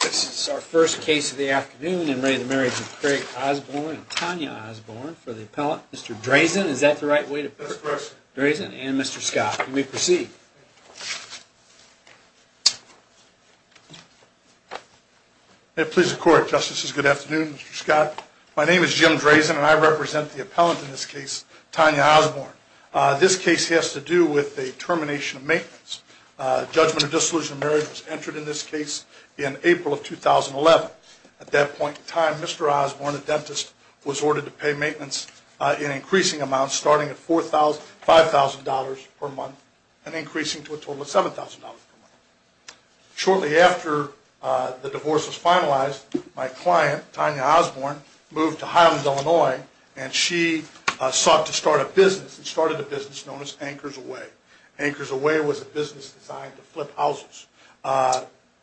This is our first case of the afternoon in re the marriage of Craig Osborne and Tanya Osborne for the appellant. Mr. Drazen, is that the right way to put it? Drazen and Mr. Scott, you may proceed. May it please the court, justices. Good afternoon, Mr. Scott. My name is Jim Drazen, and I represent the appellant in this case, Tanya Osborne. This case has to do with the termination of maintenance. Judgment of disillusioned marriage was entered in this case in April of 2011. At that point in time, Mr. Osborne, a dentist, was ordered to pay maintenance in increasing amounts starting at $4,000-$5,000 per month and increasing to a total of $7,000 per month. Shortly after the divorce was finalized, my client, Tanya Osborne, moved to Highlands, Illinois, and she sought to start a business and started a business known as Anchors Away. Anchors Away was a business designed to flip houses.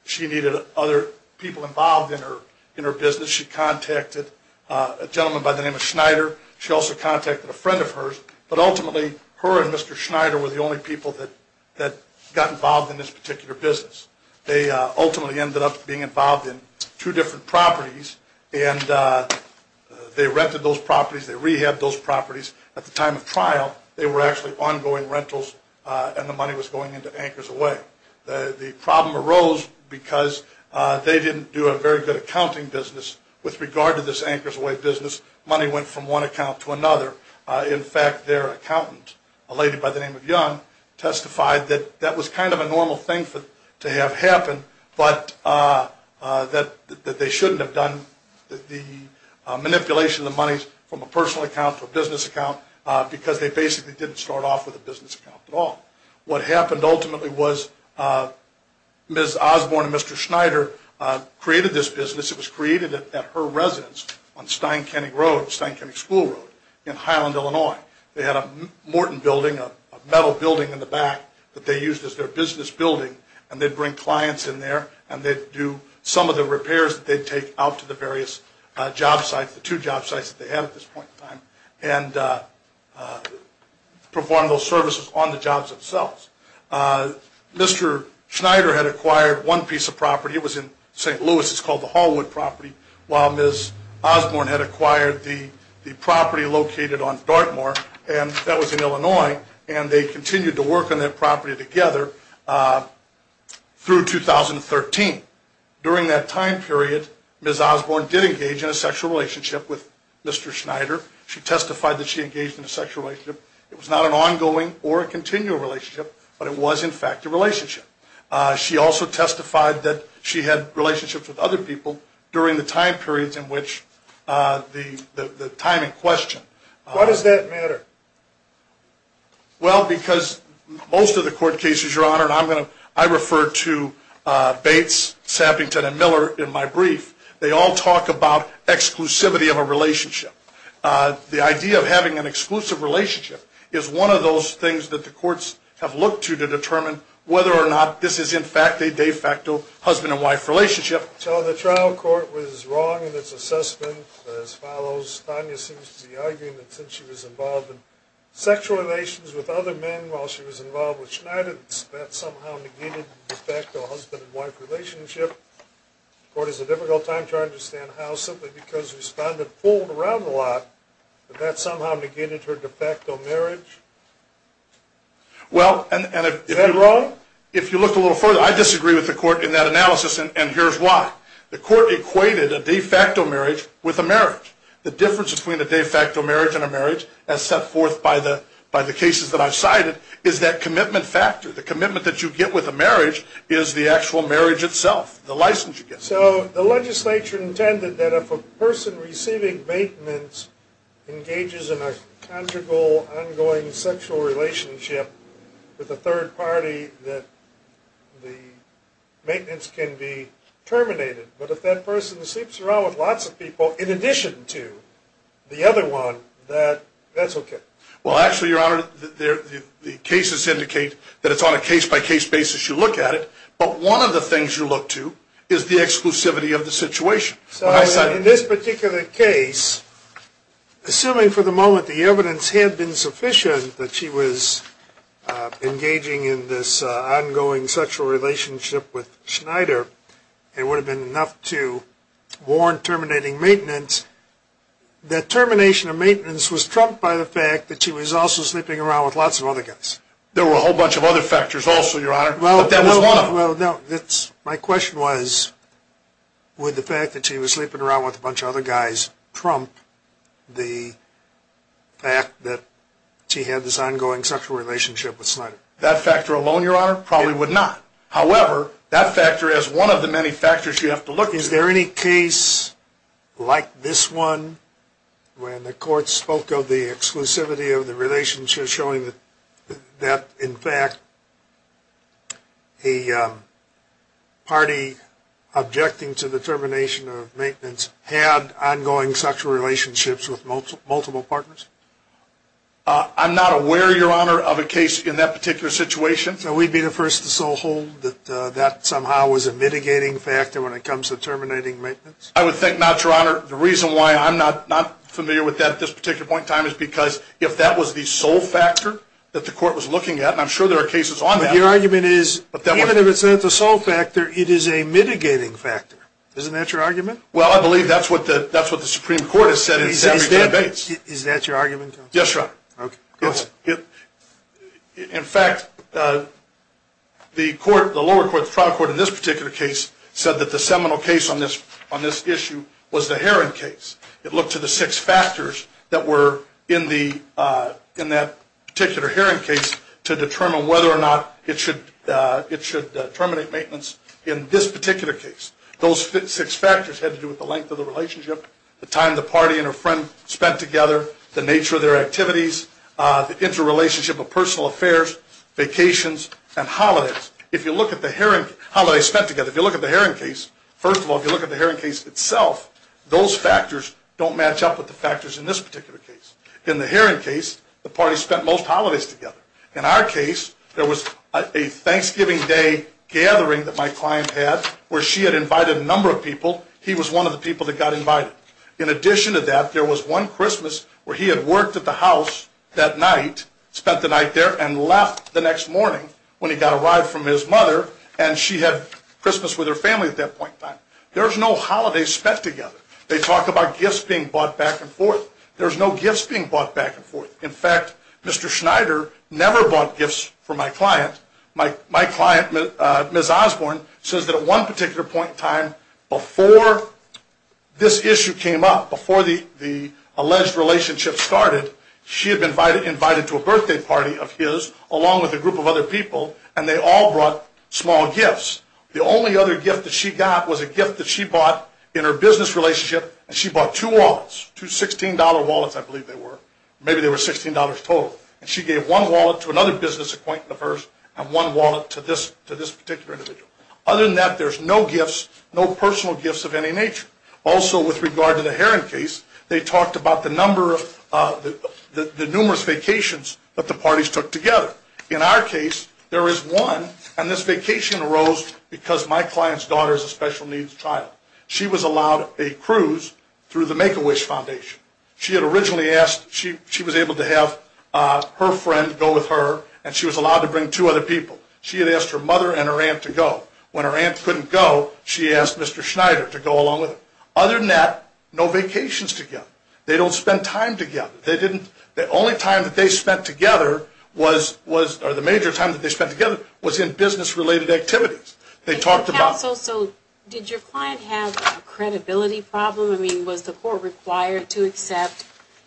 She needed other people involved in her in her business. She contacted a gentleman by the name of Schneider. She also contacted a friend of hers, but ultimately her and Mr. Schneider were the only people that that got involved in this particular business. They ultimately ended up being involved in two different properties and they rented those properties, they rehabbed those properties. At the time of trial, they were actually ongoing rentals and the money was going into Anchors Away. The problem arose because they didn't do a very good accounting business. With regard to this Anchors Away business, money went from one account to another. In fact, their accountant, a lady by the name of Young, testified that that was kind of a normal thing to have happen, but that they shouldn't have done the manipulation of the monies from a personal account to a business account because they basically didn't start off with a business account at all. What happened ultimately was Ms. Osborne and Mr. Schneider created this business. It was created at her residence on Steinkenning Road, Steinkenning School Road in Highland, Illinois. They had a Morton building, a metal building in the back that they used as their business building and they'd bring clients in there and they'd do some of the repairs that they'd take out to the various job sites, the two job sites that they had at this point in time, and perform those services on the jobs themselves. Mr. Schneider had acquired one piece of property. It was in St. Louis. It's called the Hallwood property, while Ms. Osborne had acquired the property located on Dartmoor and that was in Illinois and they continued to work on that property together through 2013. During that time period, Ms. Osborne did engage in a sexual relationship with Mr. Schneider. She testified that she engaged in a sexual relationship. It was not an ongoing or a continual relationship, but it was in fact a relationship. She also testified that she had relationships with other people during the time periods in which the time in question. Why does that matter? Well, because most of the court cases, Your Honor, and I'm going to, I refer to Bates, Sappington, and Miller in my brief, they all talk about exclusivity of a relationship. The idea of having an exclusive relationship is one of those things that the courts have looked to to determine whether or not this is in fact a de facto husband-and-wife relationship. So the trial court was wrong in its assessment as follows. Ms. Tanya seems to be arguing that since she was involved in sexual relations with other men while she was involved with Schneider, that somehow negated the de facto husband-and-wife relationship. The court is at a difficult time trying to understand how, simply because respondent pulled around a lot, that that somehow negated her de facto marriage. Well, and if you look a little further, I disagree with the court in that analysis and here's why. The court equated a de facto marriage with a marriage. The difference between a de facto marriage and a marriage, as set forth by the, by the cases that I've cited, is that commitment factor. The commitment that you get with a marriage is the actual marriage itself, the license you get. So the legislature intended that if a person receiving maintenance engages in a conjugal, ongoing, sexual relationship with a third party, that the terminated. But if that person sleeps around with lots of people, in addition to the other one, that, that's okay. Well, actually, Your Honor, the cases indicate that it's on a case-by-case basis you look at it. But one of the things you look to is the exclusivity of the situation. So in this particular case, assuming for the moment the evidence had been sufficient that she was engaging in this ongoing sexual relationship with Schneider, it would have been enough to warn terminating maintenance that termination of maintenance was trumped by the fact that she was also sleeping around with lots of other guys. There were a whole bunch of other factors also, Your Honor, but that was one of them. Well, no, it's, my question was, would the fact that she was sleeping around with a bunch of other guys trump the fact that she had this ongoing sexual relationship with Schneider? That factor alone, Your Honor, probably would not. However, that factor is one of the many factors you have to look at. Is there any case like this one when the court spoke of the exclusivity of the relationship showing that, that, in fact, a party objecting to the termination of maintenance had ongoing sexual relationships with multiple partners? I'm not aware, Your Honor, of a case in that particular situation. So we'd be the first to so hold that that somehow was a mitigating factor when it comes to terminating maintenance? I would think not, Your Honor. The reason why I'm not familiar with that at this particular point in time is because if that was the sole factor that the court was looking at, and I'm sure there are cases on that. But your argument is, even if it's not the sole factor, it is a mitigating factor. Isn't that your argument? Well, I believe that's what the, that's what the Supreme Court has said. Is that your argument? Yes, Your Honor. Okay. In fact, the court, the lower court, the trial court, in this particular case said that the seminal case on this, on this issue was the Heron case. It looked to the six factors that were in the, in that particular Heron case to determine whether or not it should, it should terminate maintenance in this particular case. Those six factors had to do with the length of the relationship, the time the party and her friend spent together, the nature of their activities, the interrelationship of personal affairs, vacations, and holidays. If you look at the Heron, holidays spent together, if you look at the Heron case, first of all, if you look at the Heron case itself, those factors don't match up with the factors in this particular case. In the Heron case, the party spent most holidays together. In our case, there was a Thanksgiving Day gathering that my client had where she had invited a number of people. He was one of the people that got invited. In addition to that, there was one Christmas where he had worked at the house that night, spent the night there, and left the next morning when he got a ride from his mother, and she had Christmas with her family at that point in time. There's no holidays spent together. They talk about gifts being bought back and forth. There's no gifts being bought back and forth. In fact, Mr. Schneider never bought gifts for my client. My client, Ms. Osborne, says that at one particular point in time, before this issue came up, before the alleged relationship started, she had been invited to a birthday party of his, along with a group of other people, and they all brought small gifts. The only other gift that she got was a gift that she bought in her business relationship, and she bought two wallets, two $16 wallets, I believe they were. Maybe they were $16 total, and she gave one wallet to another business acquaintance of hers, and one wallet to this particular individual. Other than that, there's no gifts, no personal gifts of any nature. Also, with regard to the Heron case, they talked about the number of the numerous vacations that the parties took together. In our case, there is one, and this vacation arose because my client's daughter is a special needs child. She was allowed a cruise through the Make-A-Wish Foundation. She had originally asked, she was able to have her friend go with her, and she was allowed to bring two other people. She had asked her mother and her aunt to go. When her aunt couldn't go, she asked Mr. Schneider to go along with her. Other than that, no vacations together. They don't spend time together. They didn't, the only time that they spent together was, or the major time that they spent together, was in business-related activities. They talked about... Did your client have a credibility problem? I mean, was the court required to accept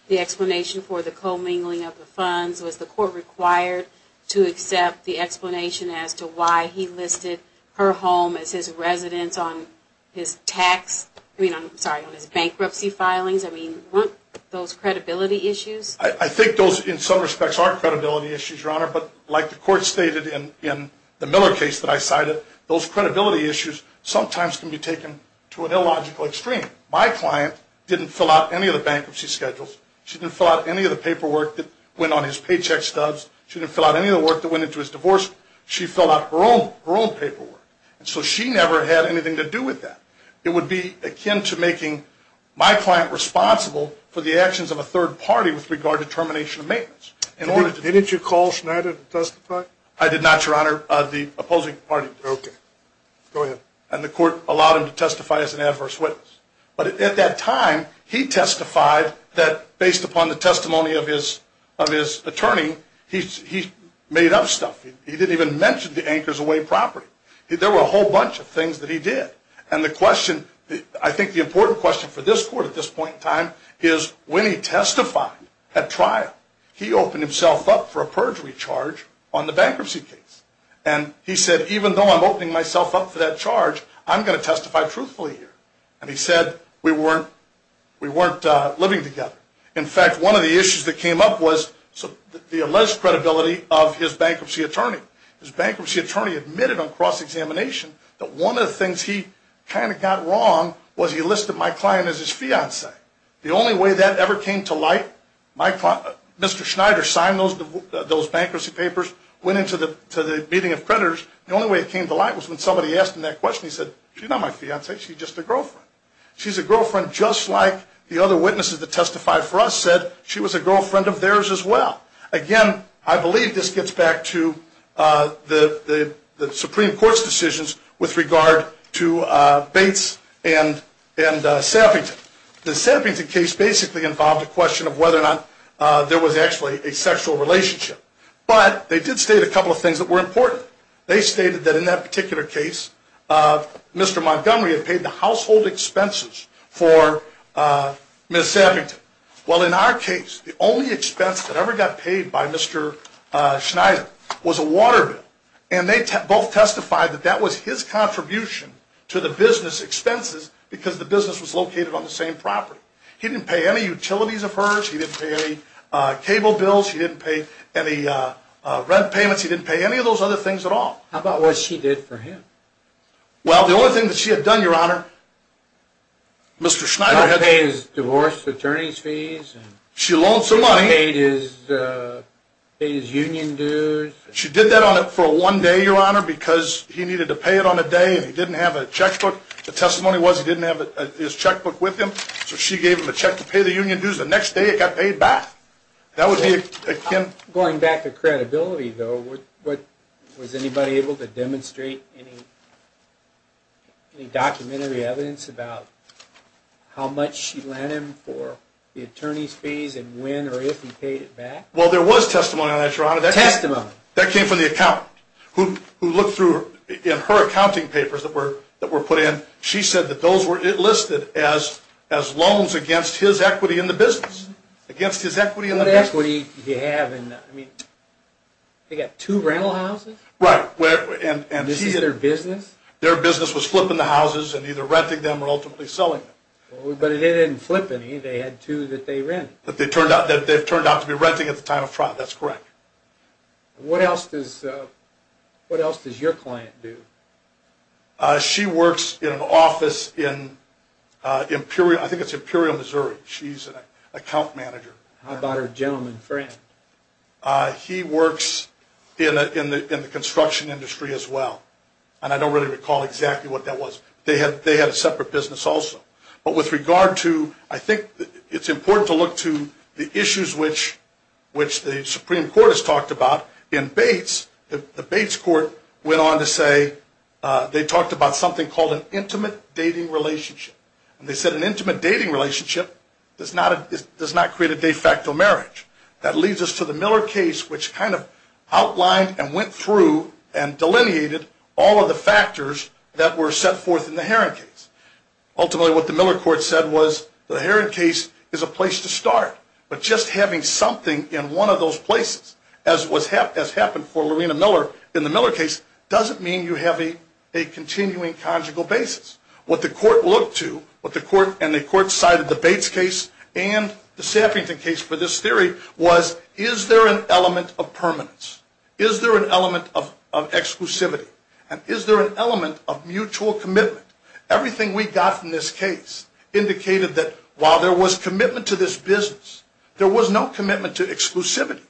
the explanation for the co-mingling of the funds? Was the court required to accept the explanation as to why he listed her home as his residence on his tax, I mean, I'm sorry, on his bankruptcy filings? I mean, weren't those credibility issues? I think those, in some respects, are credibility issues, Your Honor, but like the court stated in the Miller case that I cited, those credibility issues sometimes can be taken to an illogical extreme. My client didn't fill out any of the bankruptcy schedules. She didn't fill out any of the paperwork that went on his paycheck stubs. She didn't fill out any of the work that went into his divorce. She filled out her own, her own paperwork, and so she never had anything to do with that. It would be akin to making my client responsible for the actions of a third party with regard to termination of maintenance. Didn't you call Schneider to testify? I did not, Your Honor. The opposing party did. Okay. Go ahead. And the court allowed him to testify as an adverse witness, but at that time, he testified that based upon the testimony of his, of his attorney, he made up stuff. He didn't even mention the anchors away property. There were a whole bunch of things that he did, and the question, I think the important question for this court at this point in time, is when he testified at trial, he opened himself up for a perjury charge on the bankruptcy case, and he said, even though I'm opening myself up for that charge, I'm going to testify truthfully here, and he said we weren't, we weren't living together. In fact, one of the issues that came up was the alleged credibility of his bankruptcy attorney. His bankruptcy attorney admitted on cross-examination that one of the things he kind of got wrong was he listed my client as his fiancée. The only way that ever came to light, my client, Mr. Schneider signed those, those bankruptcy papers, went into the meeting of creditors, the only way it came to light was when somebody asked him that question, he said, she's not my fiancée, she's just a girlfriend. She's a girlfriend just like the other witnesses that testified for us said, she was a girlfriend of theirs as well. Again, I believe this gets back to the, the Supreme Court's decisions with regard to Bates and, and the Sappington case basically involved a question of whether or not there was actually a sexual relationship, but they did state a couple of things that were important. They stated that in that particular case, Mr. Montgomery had paid the household expenses for Ms. Sappington. Well, in our case, the only expense that ever got paid by Mr. Schneider was a water bill, and they both testified that that was his contribution to the business expenses because the business was located on the same property. He didn't pay any utilities of hers, he didn't pay any cable bills, he didn't pay any rent payments, he didn't pay any of those other things at all. How about what she did for him? Well, the only thing that she had done, Your Honor, Mr. Schneider had to pay his divorce attorney's fees. She loaned some money. He paid his, he paid his union dues. She did that on it for one day, Your Honor, because he needed to pay it on a day, and he didn't have a checkbook. The testimony was he didn't have his checkbook with him, so she gave him a check to pay the union dues. The next day it got paid back. That would be akin... Going back to credibility, though, what, was anybody able to demonstrate any, any documentary evidence about how much she lent him for the attorney's fees, and when or if he paid it back? Well, there was testimony on that, Your Honor. Testimony? That came from the accountant, who looked through, in her accounting papers that were, that were put in, she said that those were listed as, as loans against his equity in the business. Against his equity in the business. What equity did he have in, I mean, they got two rental houses? Right, where, and, and... This is their business? Their business was flipping the houses and either renting them or ultimately selling them. But they didn't flip any, they had two that they rent. That they turned out, that they've turned out to be renting at the time of trial. That's correct. What else does, what else does your client do? She works in an office in Imperial, I think it's Imperial, Missouri. She's an account manager. How about her gentleman friend? He works in a, in the, in the construction industry as well, and I don't really recall exactly what that was. They had, they had a separate business also. But with regard to, I think it's important to look to the issues which, which the Supreme Court has talked about. In Bates, the Bates court went on to say, they talked about something called an intimate dating relationship, and they said an intimate dating relationship does not, does not create a de facto marriage. That leads us to the Miller case, which kind of outlined and went through and delineated all of the factors that were set forth in the Heron case. Ultimately, what the Miller court said was the Heron case is a place to start, but just having something in one of those places, as was hap, as happened for Lorena Miller in the Miller case, doesn't mean you have a, a and the Saffrington case for this theory was, is there an element of permanence? Is there an element of, of exclusivity? And is there an element of mutual commitment? Everything we got from this case indicated that while there was commitment to this business, there was no commitment to exclusivity.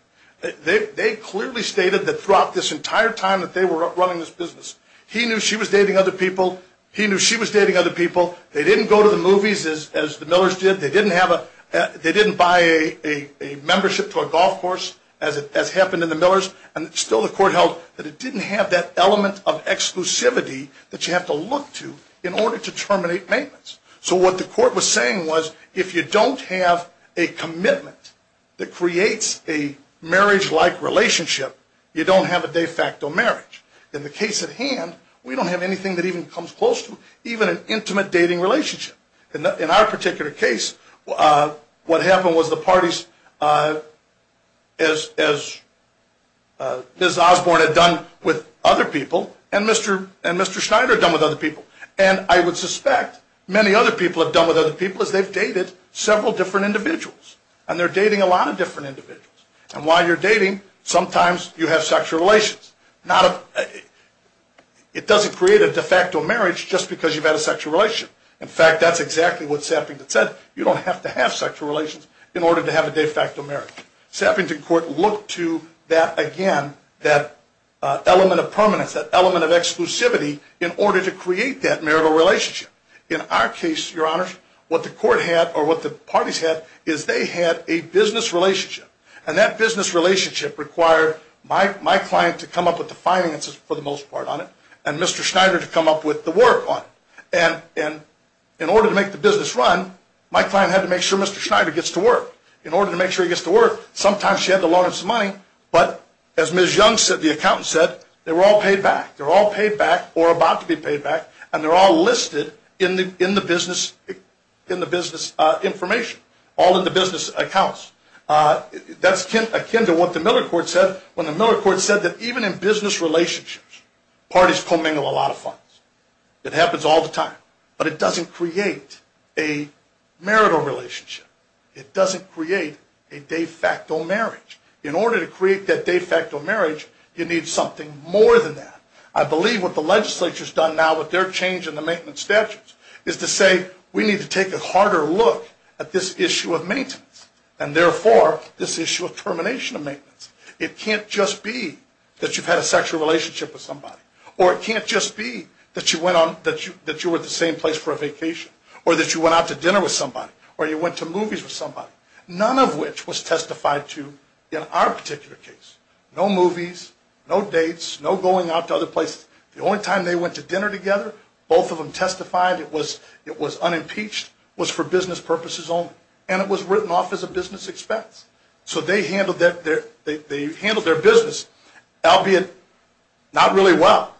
They, they clearly stated that throughout this entire time that they were running this business, he knew she was dating other people. He knew she was dating other people. They didn't go to the movies as, as the Millers did. They didn't have a, they didn't buy a, a, a membership to a golf course as it, as happened in the Millers, and still the court held that it didn't have that element of exclusivity that you have to look to in order to terminate maintenance. So what the court was saying was if you don't have a commitment that creates a marriage-like relationship, you don't have a de facto marriage. In the case at hand, we don't have anything that even comes close to even an intimate dating relationship. And in our particular case, what happened was the parties, as, as Ms. Osborne had done with other people, and Mr., and Mr. Schneider had done with other people. And I would suspect many other people have done with other people as they've dated several different individuals. And they're dating a lot of different individuals. And while you're dating, sometimes you have sexual relations. Not a, it doesn't create a de facto marriage just because you've had a sexual relation. In fact, that's exactly what Sappington said. You don't have to have sexual relations in order to have a de facto marriage. Sappington Court looked to that again, that element of permanence, that element of exclusivity, in order to create that marital relationship. In our case, Your Honors, what the court had, or what the parties had, is they had a business relationship. And that business relationship required my, my client to come up with the finances for the most part on it, and Mr. Schneider to come up with the work on it. And, and in order to make the business run, my client had to make sure Mr. Schneider gets to work. In order to make sure he gets to work, sometimes she had to loan him some money. But, as Ms. Young said, the accountant said, they were all paid back. They're all paid back, or about to be paid back, and they're all listed in the, in the business, in the business information, all in the business accounts. That's akin to what the Miller Court said, when the Miller Court said that even in business relationships, parties commingle a lot of funds. It happens all the time, but it doesn't create a marital relationship. It doesn't create a de facto marriage. In order to create that de facto marriage, you need something more than that. I believe what the legislature has done now with their change in the maintenance statutes, is to say, we need to take a harder look at this issue of maintenance, and therefore, this issue of termination of maintenance. It can't just be that you've had a sexual relationship with somebody, or it can't just be that you went on, that you, that you were at the same place for a vacation, or that you went out to dinner with somebody, or you went to movies with somebody. None of which was testified to in our particular case. No movies, no dates, no going out to other places. The only time they went to dinner together, both of them testified, it was, it was unimpeached, was for business purposes only, and it was written off as a business expense. So they handled that, they handled their business, albeit not really well.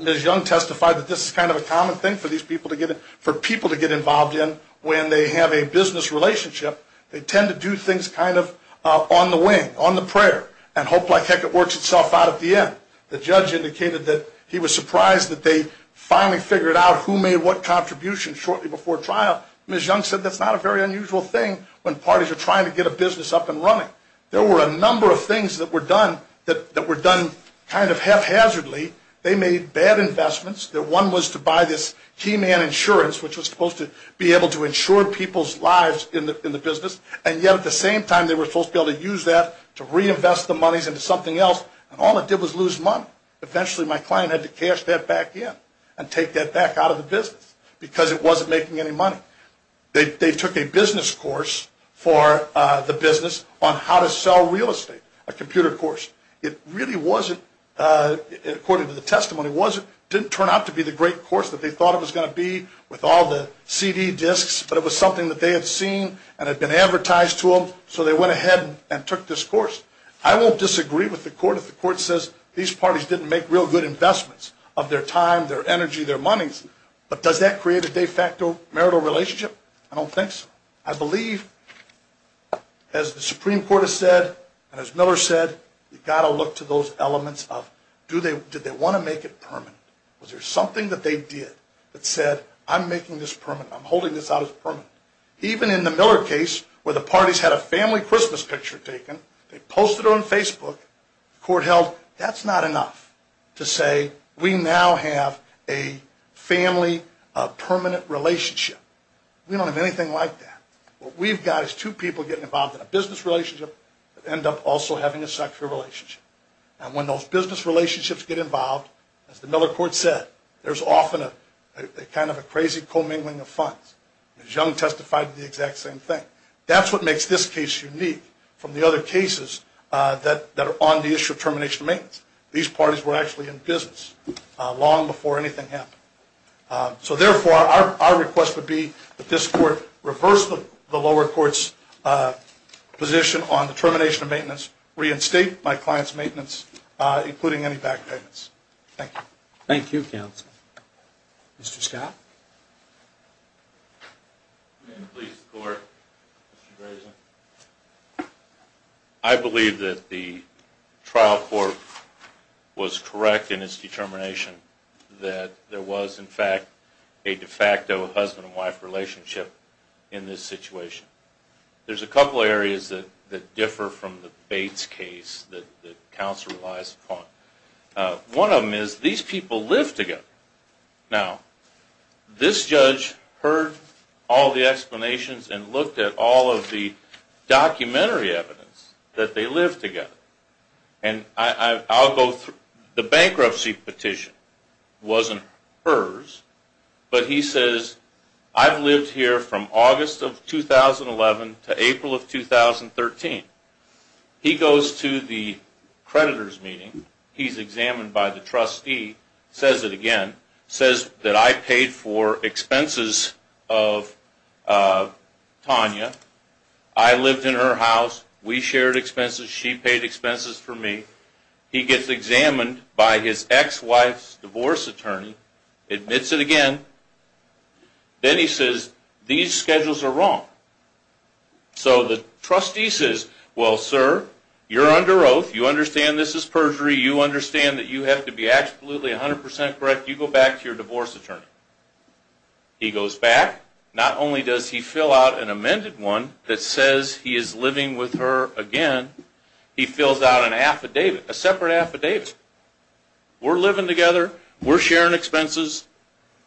Ms. Young testified that this is kind of a common thing for these people to get, for people to get involved in when they have a business relationship. They tend to do things kind of on the wing, on the prayer, and hope like heck it works itself out at the end. The judge indicated that he was surprised that they finally figured out who made what contribution shortly before trial. Ms. Young said that's not a very unusual thing when parties are trying to get a business up and running. There were a number of things that were done that were done kind of haphazardly. They made bad investments, that one was to buy this key man insurance, which was supposed to be able to insure people's lives in the business, and yet at the same time they were supposed to be able to use that to reinvest the monies into something else, and all it did was lose money. Eventually my client had to cash that back in and take that back out of the business because it wasn't making any money. They took a business course for the business on how to sell real estate, a computer course. It really wasn't, according to the testimony, it didn't turn out to be the great course that they thought it was going to be with all the CD discs, but it was something that they had seen and had been advertised to them, so they went ahead and took this course. I won't disagree with the court if the court says these parties didn't make real good investments of their time, their energy, their monies, but does that create a de facto marital relationship? I don't think so. I believe, as the Supreme Court has said, and as Miller said, you've got to look to those elements of, did they want to make it permanent? Was there something that they did that said, I'm making this permanent, I'm holding this out as permanent. Even in the Miller case, where the parties had a family Christmas picture taken, they posted it on Facebook, the court held that's not enough to say we now have a family permanent relationship. We don't have anything like that. What we've got is two people getting involved in a business relationship that end up also having a sexual relationship, and when those business relationships get involved, as the Miller court said, there's often a kind of a crazy commingling of funds. As Young testified, the exact same thing. That's what makes this case unique from the other cases that are on the issue of termination of maintenance. These parties were actually in business long before anything happened. So therefore, our request would be that this court reverse the lower court's position on the termination of maintenance, reinstate my client's maintenance, including any back payments. Thank you. Thank you, counsel. Mr. Scott? I believe that the trial court was correct in its determination that there was, in fact, a de facto husband-and-wife relationship in this situation. There's a couple areas that that differ from the Bates case that the counsel relies upon. One of them is these people live together. Now, this judge heard all the explanations and looked at all of the documentary evidence that they live together, and I'll go through. The bankruptcy petition wasn't hers, but he says, I've lived here from August of 2011 to April of 2013. He goes to the trial court. He's examined by the trustee, says it again, says that I paid for expenses of Tanya. I lived in her house. We shared expenses. She paid expenses for me. He gets examined by his ex-wife's divorce attorney, admits it again. Then he says, these schedules are wrong. So the trustee says, well, sir, you're under oath. You understand this is perjury. You understand that you have to be absolutely 100% correct. You go back to your divorce attorney. He goes back. Not only does he fill out an amended one that says he is living with her again, he fills out an affidavit, a separate affidavit. We're living together. We're sharing expenses,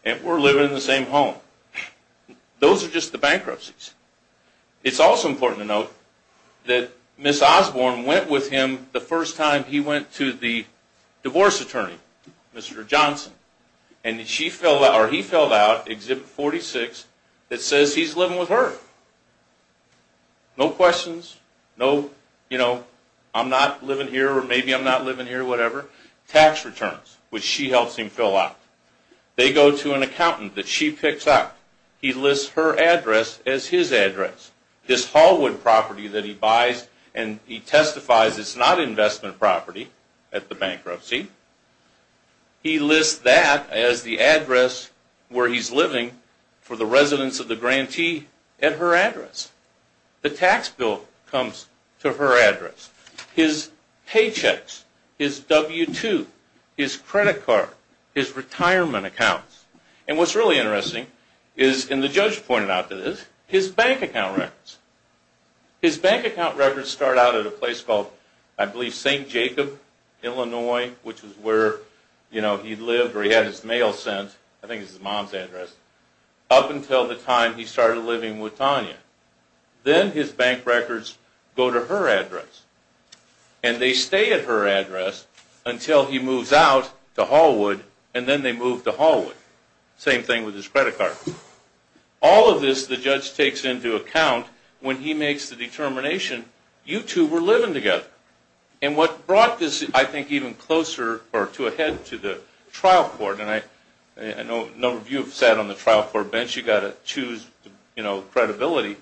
and we're living in the same home. Those are just the bankruptcies. It's also important to note that Ms. Osborne went with him the first time he went to the divorce attorney, Mr. Johnson, and he filled out Exhibit 46 that says he's living with her. No questions. No, you know, I'm not living here, or maybe I'm not living here, whatever. Tax returns, which she helps him fill out. They go to an accountant that she picks up. He lists her address as his address. This Hallwood property that he buys, and he testifies it's not investment property at the bankruptcy. He lists that as the address where he's living for the residents of the grantee at her address. The tax bill comes to her address. His paychecks, his W-2, his credit card, his retirement accounts. And what's really interesting is, and the judge pointed out to this, his bank account records. His bank account records start out at a place called, I believe, St. Jacob, Illinois, which is where, you know, he lived, where he had his mail sent. I think it's his mom's address. Up until the time he started living with Tanya. Then his bank records go to her address, and they stay at her address until he moves out to Hallwood, and then they move to Hallwood. Same thing with his credit card. All of this the judge takes into account when he makes the determination, you two were living together. And what brought this, I think, even closer or to a head to the trial court, and I know a number of you have sat on the trial court bench. You got to choose, you know, credibility.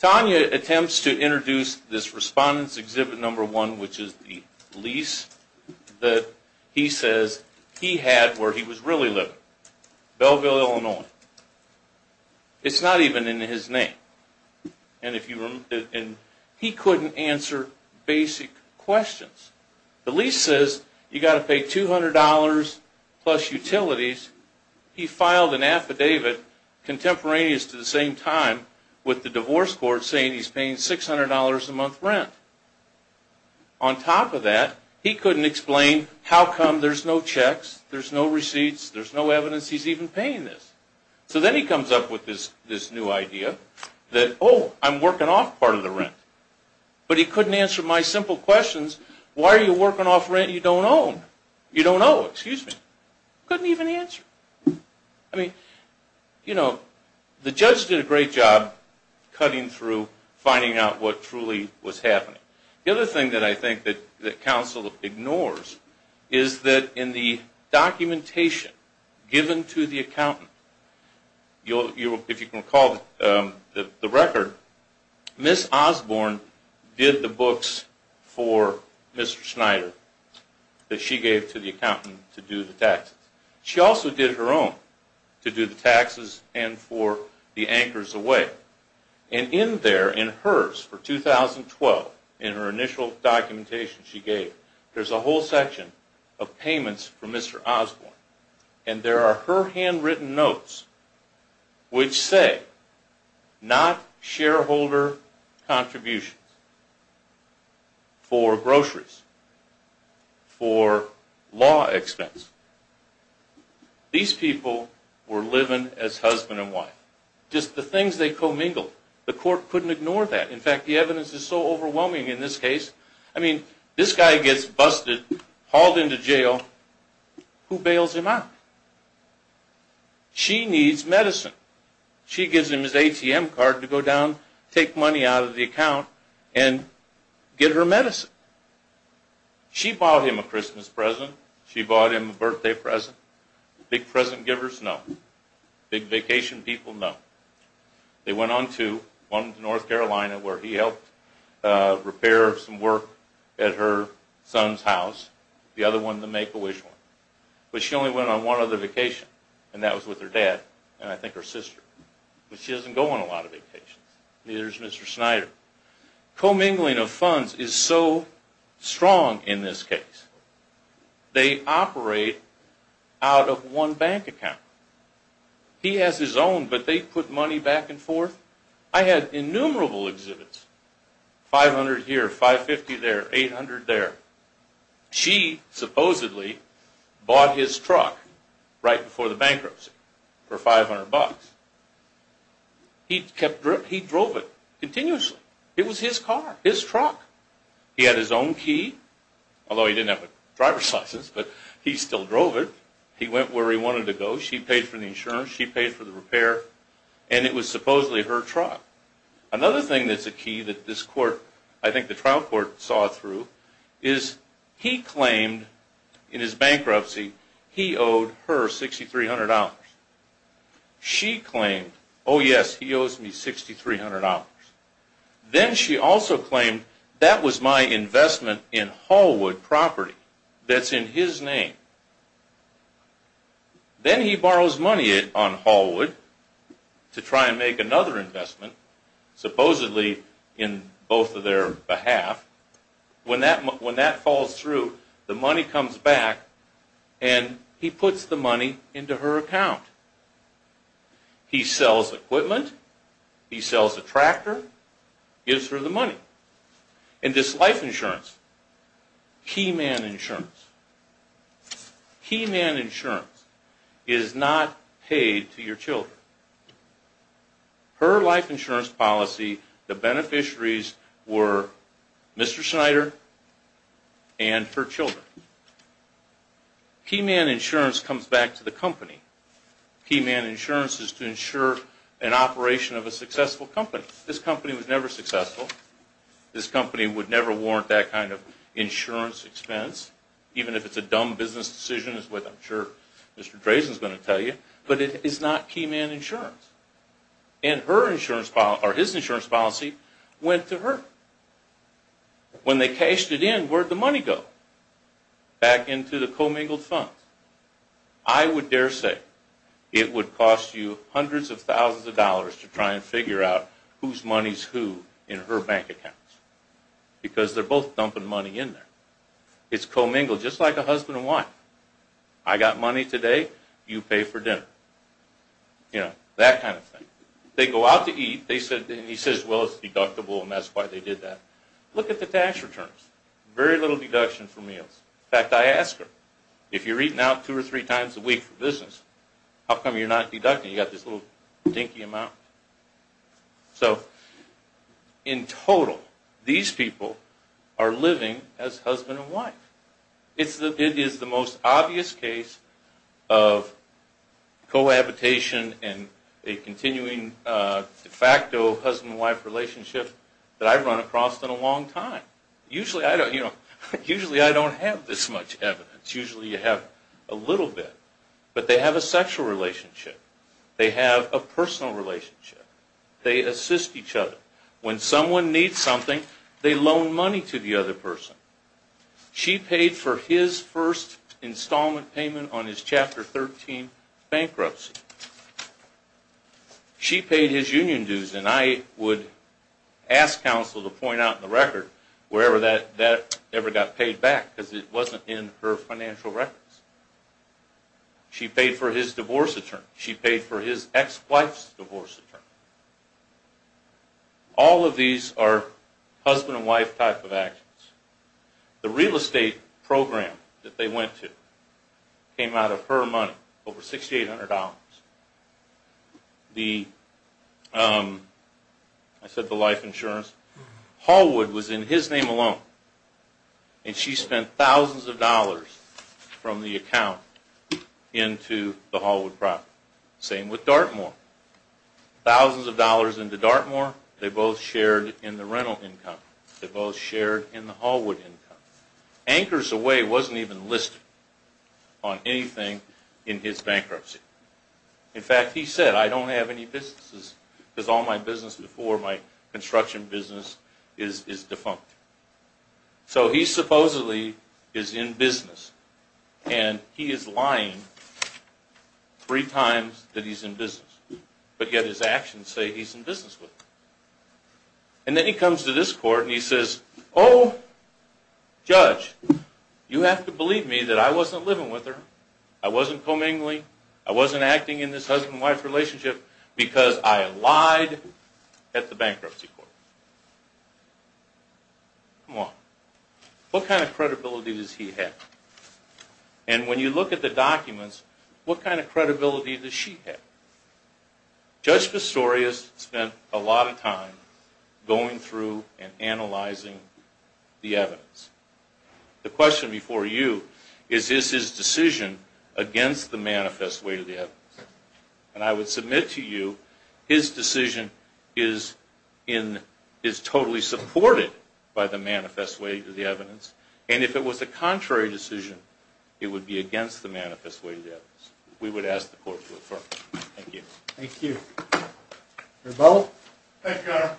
Tanya attempts to introduce this respondent's exhibit number one, which is the lease that he says he had where he was really living. Belleville, Illinois. It's not even in his name. And he couldn't answer basic questions. The lease says you got to pay $200 plus utilities. He filed an affidavit contemporaneous to the same time with the divorce court saying he's paying $600 a month rent. On top of that, he couldn't explain how come there's no checks, there's no receipts, there's no evidence he's even paying this. So then he comes up with this new idea that, oh, I'm working off part of the rent. But he couldn't answer my simple questions. Why are you working off rent you don't own? You don't owe, excuse me. Couldn't even answer. I mean, you know, the judge did a great job cutting through, finding out what truly was happening. The other thing that I think that the counsel ignores is that in the documentation given to the accountant, if you can recall the record, Ms. Osborne did the books for Mr. Snyder that she gave to the accountant to do the taxes. She also did her own to do the taxes and for the anchors away. And in there, in hers for 2012, in her initial documentation she gave, there's a whole section of payments for Mr. Osborne. And there are her handwritten notes which say not shareholder contributions for groceries, for law expense. These people were living as husband and wife. Just the things they commingled. The court couldn't ignore that. In fact, the evidence is so overwhelming in this case. I mean, this guy gets busted, hauled into jail, who bails him out? She needs medicine. She gives him his ATM card to go down, take money out of the account, and get her medicine. She bought him a Christmas present. She bought him a birthday present. Big present givers, no. Big vacation people, no. They went on to one in North Carolina where he helped repair some work at her son's house, the other one, the Make-A-Wish one. But she only went on one other vacation, and that was with her dad, and I think her sister. But she doesn't go on a lot of vacations. Neither does Mr. Snyder. Commingling of funds is so strong in this case. They operate out of one bank account. He has his own, but they put money back and forth. I had innumerable exhibits. 500 here, 550 there, 800 there. She supposedly bought his truck right before the bankruptcy for 500 bucks. He kept, he drove it continuously. It was his car, his truck. He had his own key. Although he didn't have a driver's license, but he still drove it. He went where he wanted to go. She paid for the insurance. She paid for the repair, and it was supposedly her truck. Another thing that's a key that this court, I think the trial court saw through, is he claimed in his bankruptcy he owed her $6,300. She claimed, oh yes, he owes me $6,300. Then she also claimed that was my investment in Hallwood property that's in his name. Then he borrows money on Hallwood to try and make another investment, supposedly in both of their behalf. When that falls through, the money comes back, and he puts the money into her account. He sells equipment. He sells a tractor, gives her the money. And this life insurance, key man insurance, key man insurance is not paid to your children. Her life insurance policy, the beneficiaries were Mr. Snyder and her children. Key man insurance comes back to the company. Key man insurance is to insure an operation of a successful company. This company was never successful. This company would never warrant that kind of insurance expense, even if it's a dumb business decision, as I'm sure Mr. Drazen is going to tell you. But it is not key man insurance. And her insurance policy, or his insurance policy, went to her. When they cashed it in, where'd the money go? Back into the commingled funds. I would dare say it would cost you hundreds of thousands of dollars to try and figure out whose money's who in her bank account. Because they're both dumping money in there. It's commingled, just like a husband and wife. I got money today, you pay for dinner. You know, that kind of thing. They go out to eat, and he says, well, it's deductible, and that's why they did that. Look at the tax returns. Very little deduction for meals. In fact, I asked her, if you're eating out two or three times a week for business, how come you're not deducting? You got this little dinky amount. So, in total, these people are living as husband and wife. It is the most obvious case of cohabitation and a continuing de facto husband and wife relationship that I've run across in a long time. Usually, I don't have this much evidence. Usually, you have a little bit. But they have a sexual relationship. They have a personal relationship. They assist each other. When someone needs something, they loan money to the other person. She paid for his first installment payment on his Chapter 13 bankruptcy. She paid his union dues. I would ask counsel to point out in the record wherever that ever got paid back, because it wasn't in her financial records. She paid for his divorce attorney. She paid for his ex-wife's divorce attorney. All of these are husband and wife type of actions. The real estate program that they went to came out of her money, over $6,800. I said the life insurance. Hallwood was in his name alone. And she spent thousands of dollars from the account into the Hallwood property. Same with Dartmoor. Thousands of dollars into Dartmoor, they both shared in the rental income. They both shared in the Hallwood income. Anchors Away wasn't even listed on anything in his bankruptcy. In fact, he said, I don't have any businesses, because all my business before, my construction business, is defunct. So he supposedly is in business. And he is lying three times that he's in business. But yet his actions say he's in business with her. And then he comes to this court and he says, oh, judge, you have to believe me that I wasn't living with her. I wasn't commingling. I wasn't acting in this husband and wife relationship, because I lied at the bankruptcy court. Come on. What kind of credibility does he have? And when you look at the documents, what kind of credibility does she have? Judge Pistorius spent a lot of time going through and analyzing the evidence. The question before you is, is his decision against the manifest way to the evidence? And I would submit to you, his decision is totally supported by the manifest way to the evidence. And if it was a contrary decision, it would be against the manifest way to the evidence. We would ask the court to affirm. Thank you. Thank you. Rebella? Thank you, Your Honor.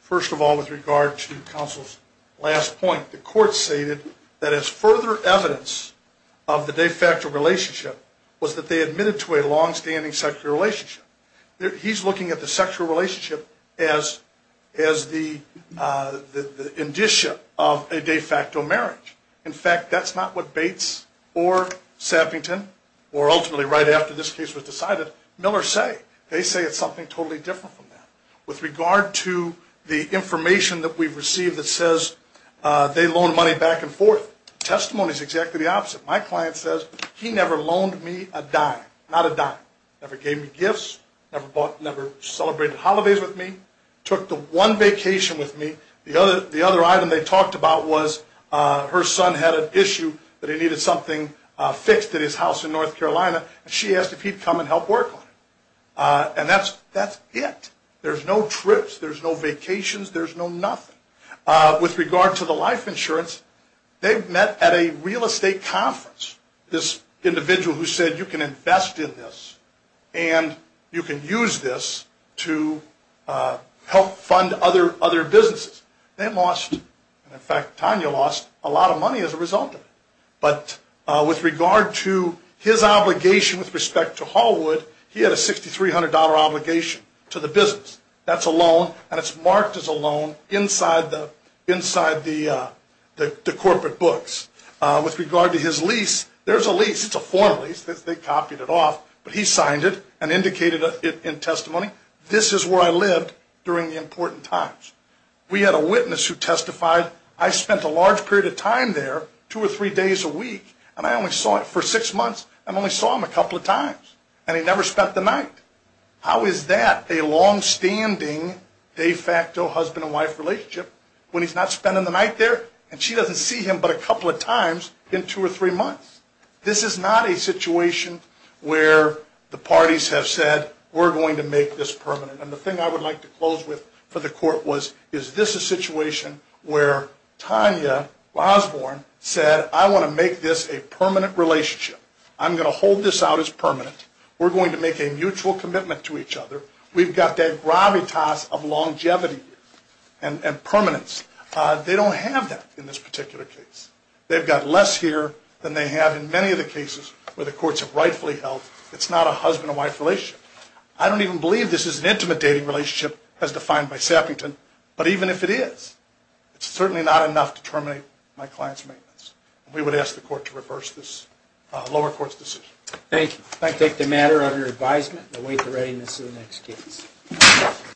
First of all, with regard to counsel's last point, the court stated that as further evidence of the de facto relationship was that they admitted to a longstanding sexual relationship. He's looking at the sexual relationship as the indicia of a de facto marriage. In fact, that's not what Bates or Sappington, or ultimately right after this case was Miller say. They say it's something totally different from that. With regard to the information that we've received that says they loan money back and forth, testimony is exactly the opposite. My client says he never loaned me a dime. Not a dime. Never gave me gifts. Never celebrated holidays with me. Took the one vacation with me. The other item they talked about was her son had an issue that he needed something fixed at his house in North Carolina. She asked if he'd come and help work on it. And that's it. There's no trips. There's no vacations. There's no nothing. With regard to the life insurance, they met at a real estate conference. This individual who said you can invest in this and you can use this to help fund other businesses. They lost, in fact, Tanya lost a lot of money as a result of it. But with regard to his obligation with respect to Hallwood, he had a $6,300 obligation to the business. That's a loan and it's marked as a loan inside the corporate books. With regard to his lease, there's a lease. It's a formal lease. They copied it off. But he signed it and indicated it in testimony. This is where I lived during the important times. We had a witness who testified. I spent a large period of time there, two or three days a week, and I only saw him for six months. I only saw him a couple of times. And he never spent the night. How is that a longstanding de facto husband and wife relationship when he's not spending the night there and she doesn't see him but a couple of times in two or three months? This is not a situation where the parties have said we're going to make this permanent. And the thing I would like to close with for the court was, is this a situation where Tanya Osborne said, I want to make this a permanent relationship. I'm going to hold this out as permanent. We're going to make a mutual commitment to each other. We've got that gravitas of longevity and permanence. They don't have that in this particular case. They've got less here than they have in many of the cases where the courts have rightfully held it's not a husband and wife relationship. I don't even believe this is an intimate dating relationship as defined by Sappington. But even if it is, it's certainly not enough to terminate my client's maintenance. We would ask the court to reverse this lower court's decision. Thank you. I take the matter under advisement and await the readiness of the next case.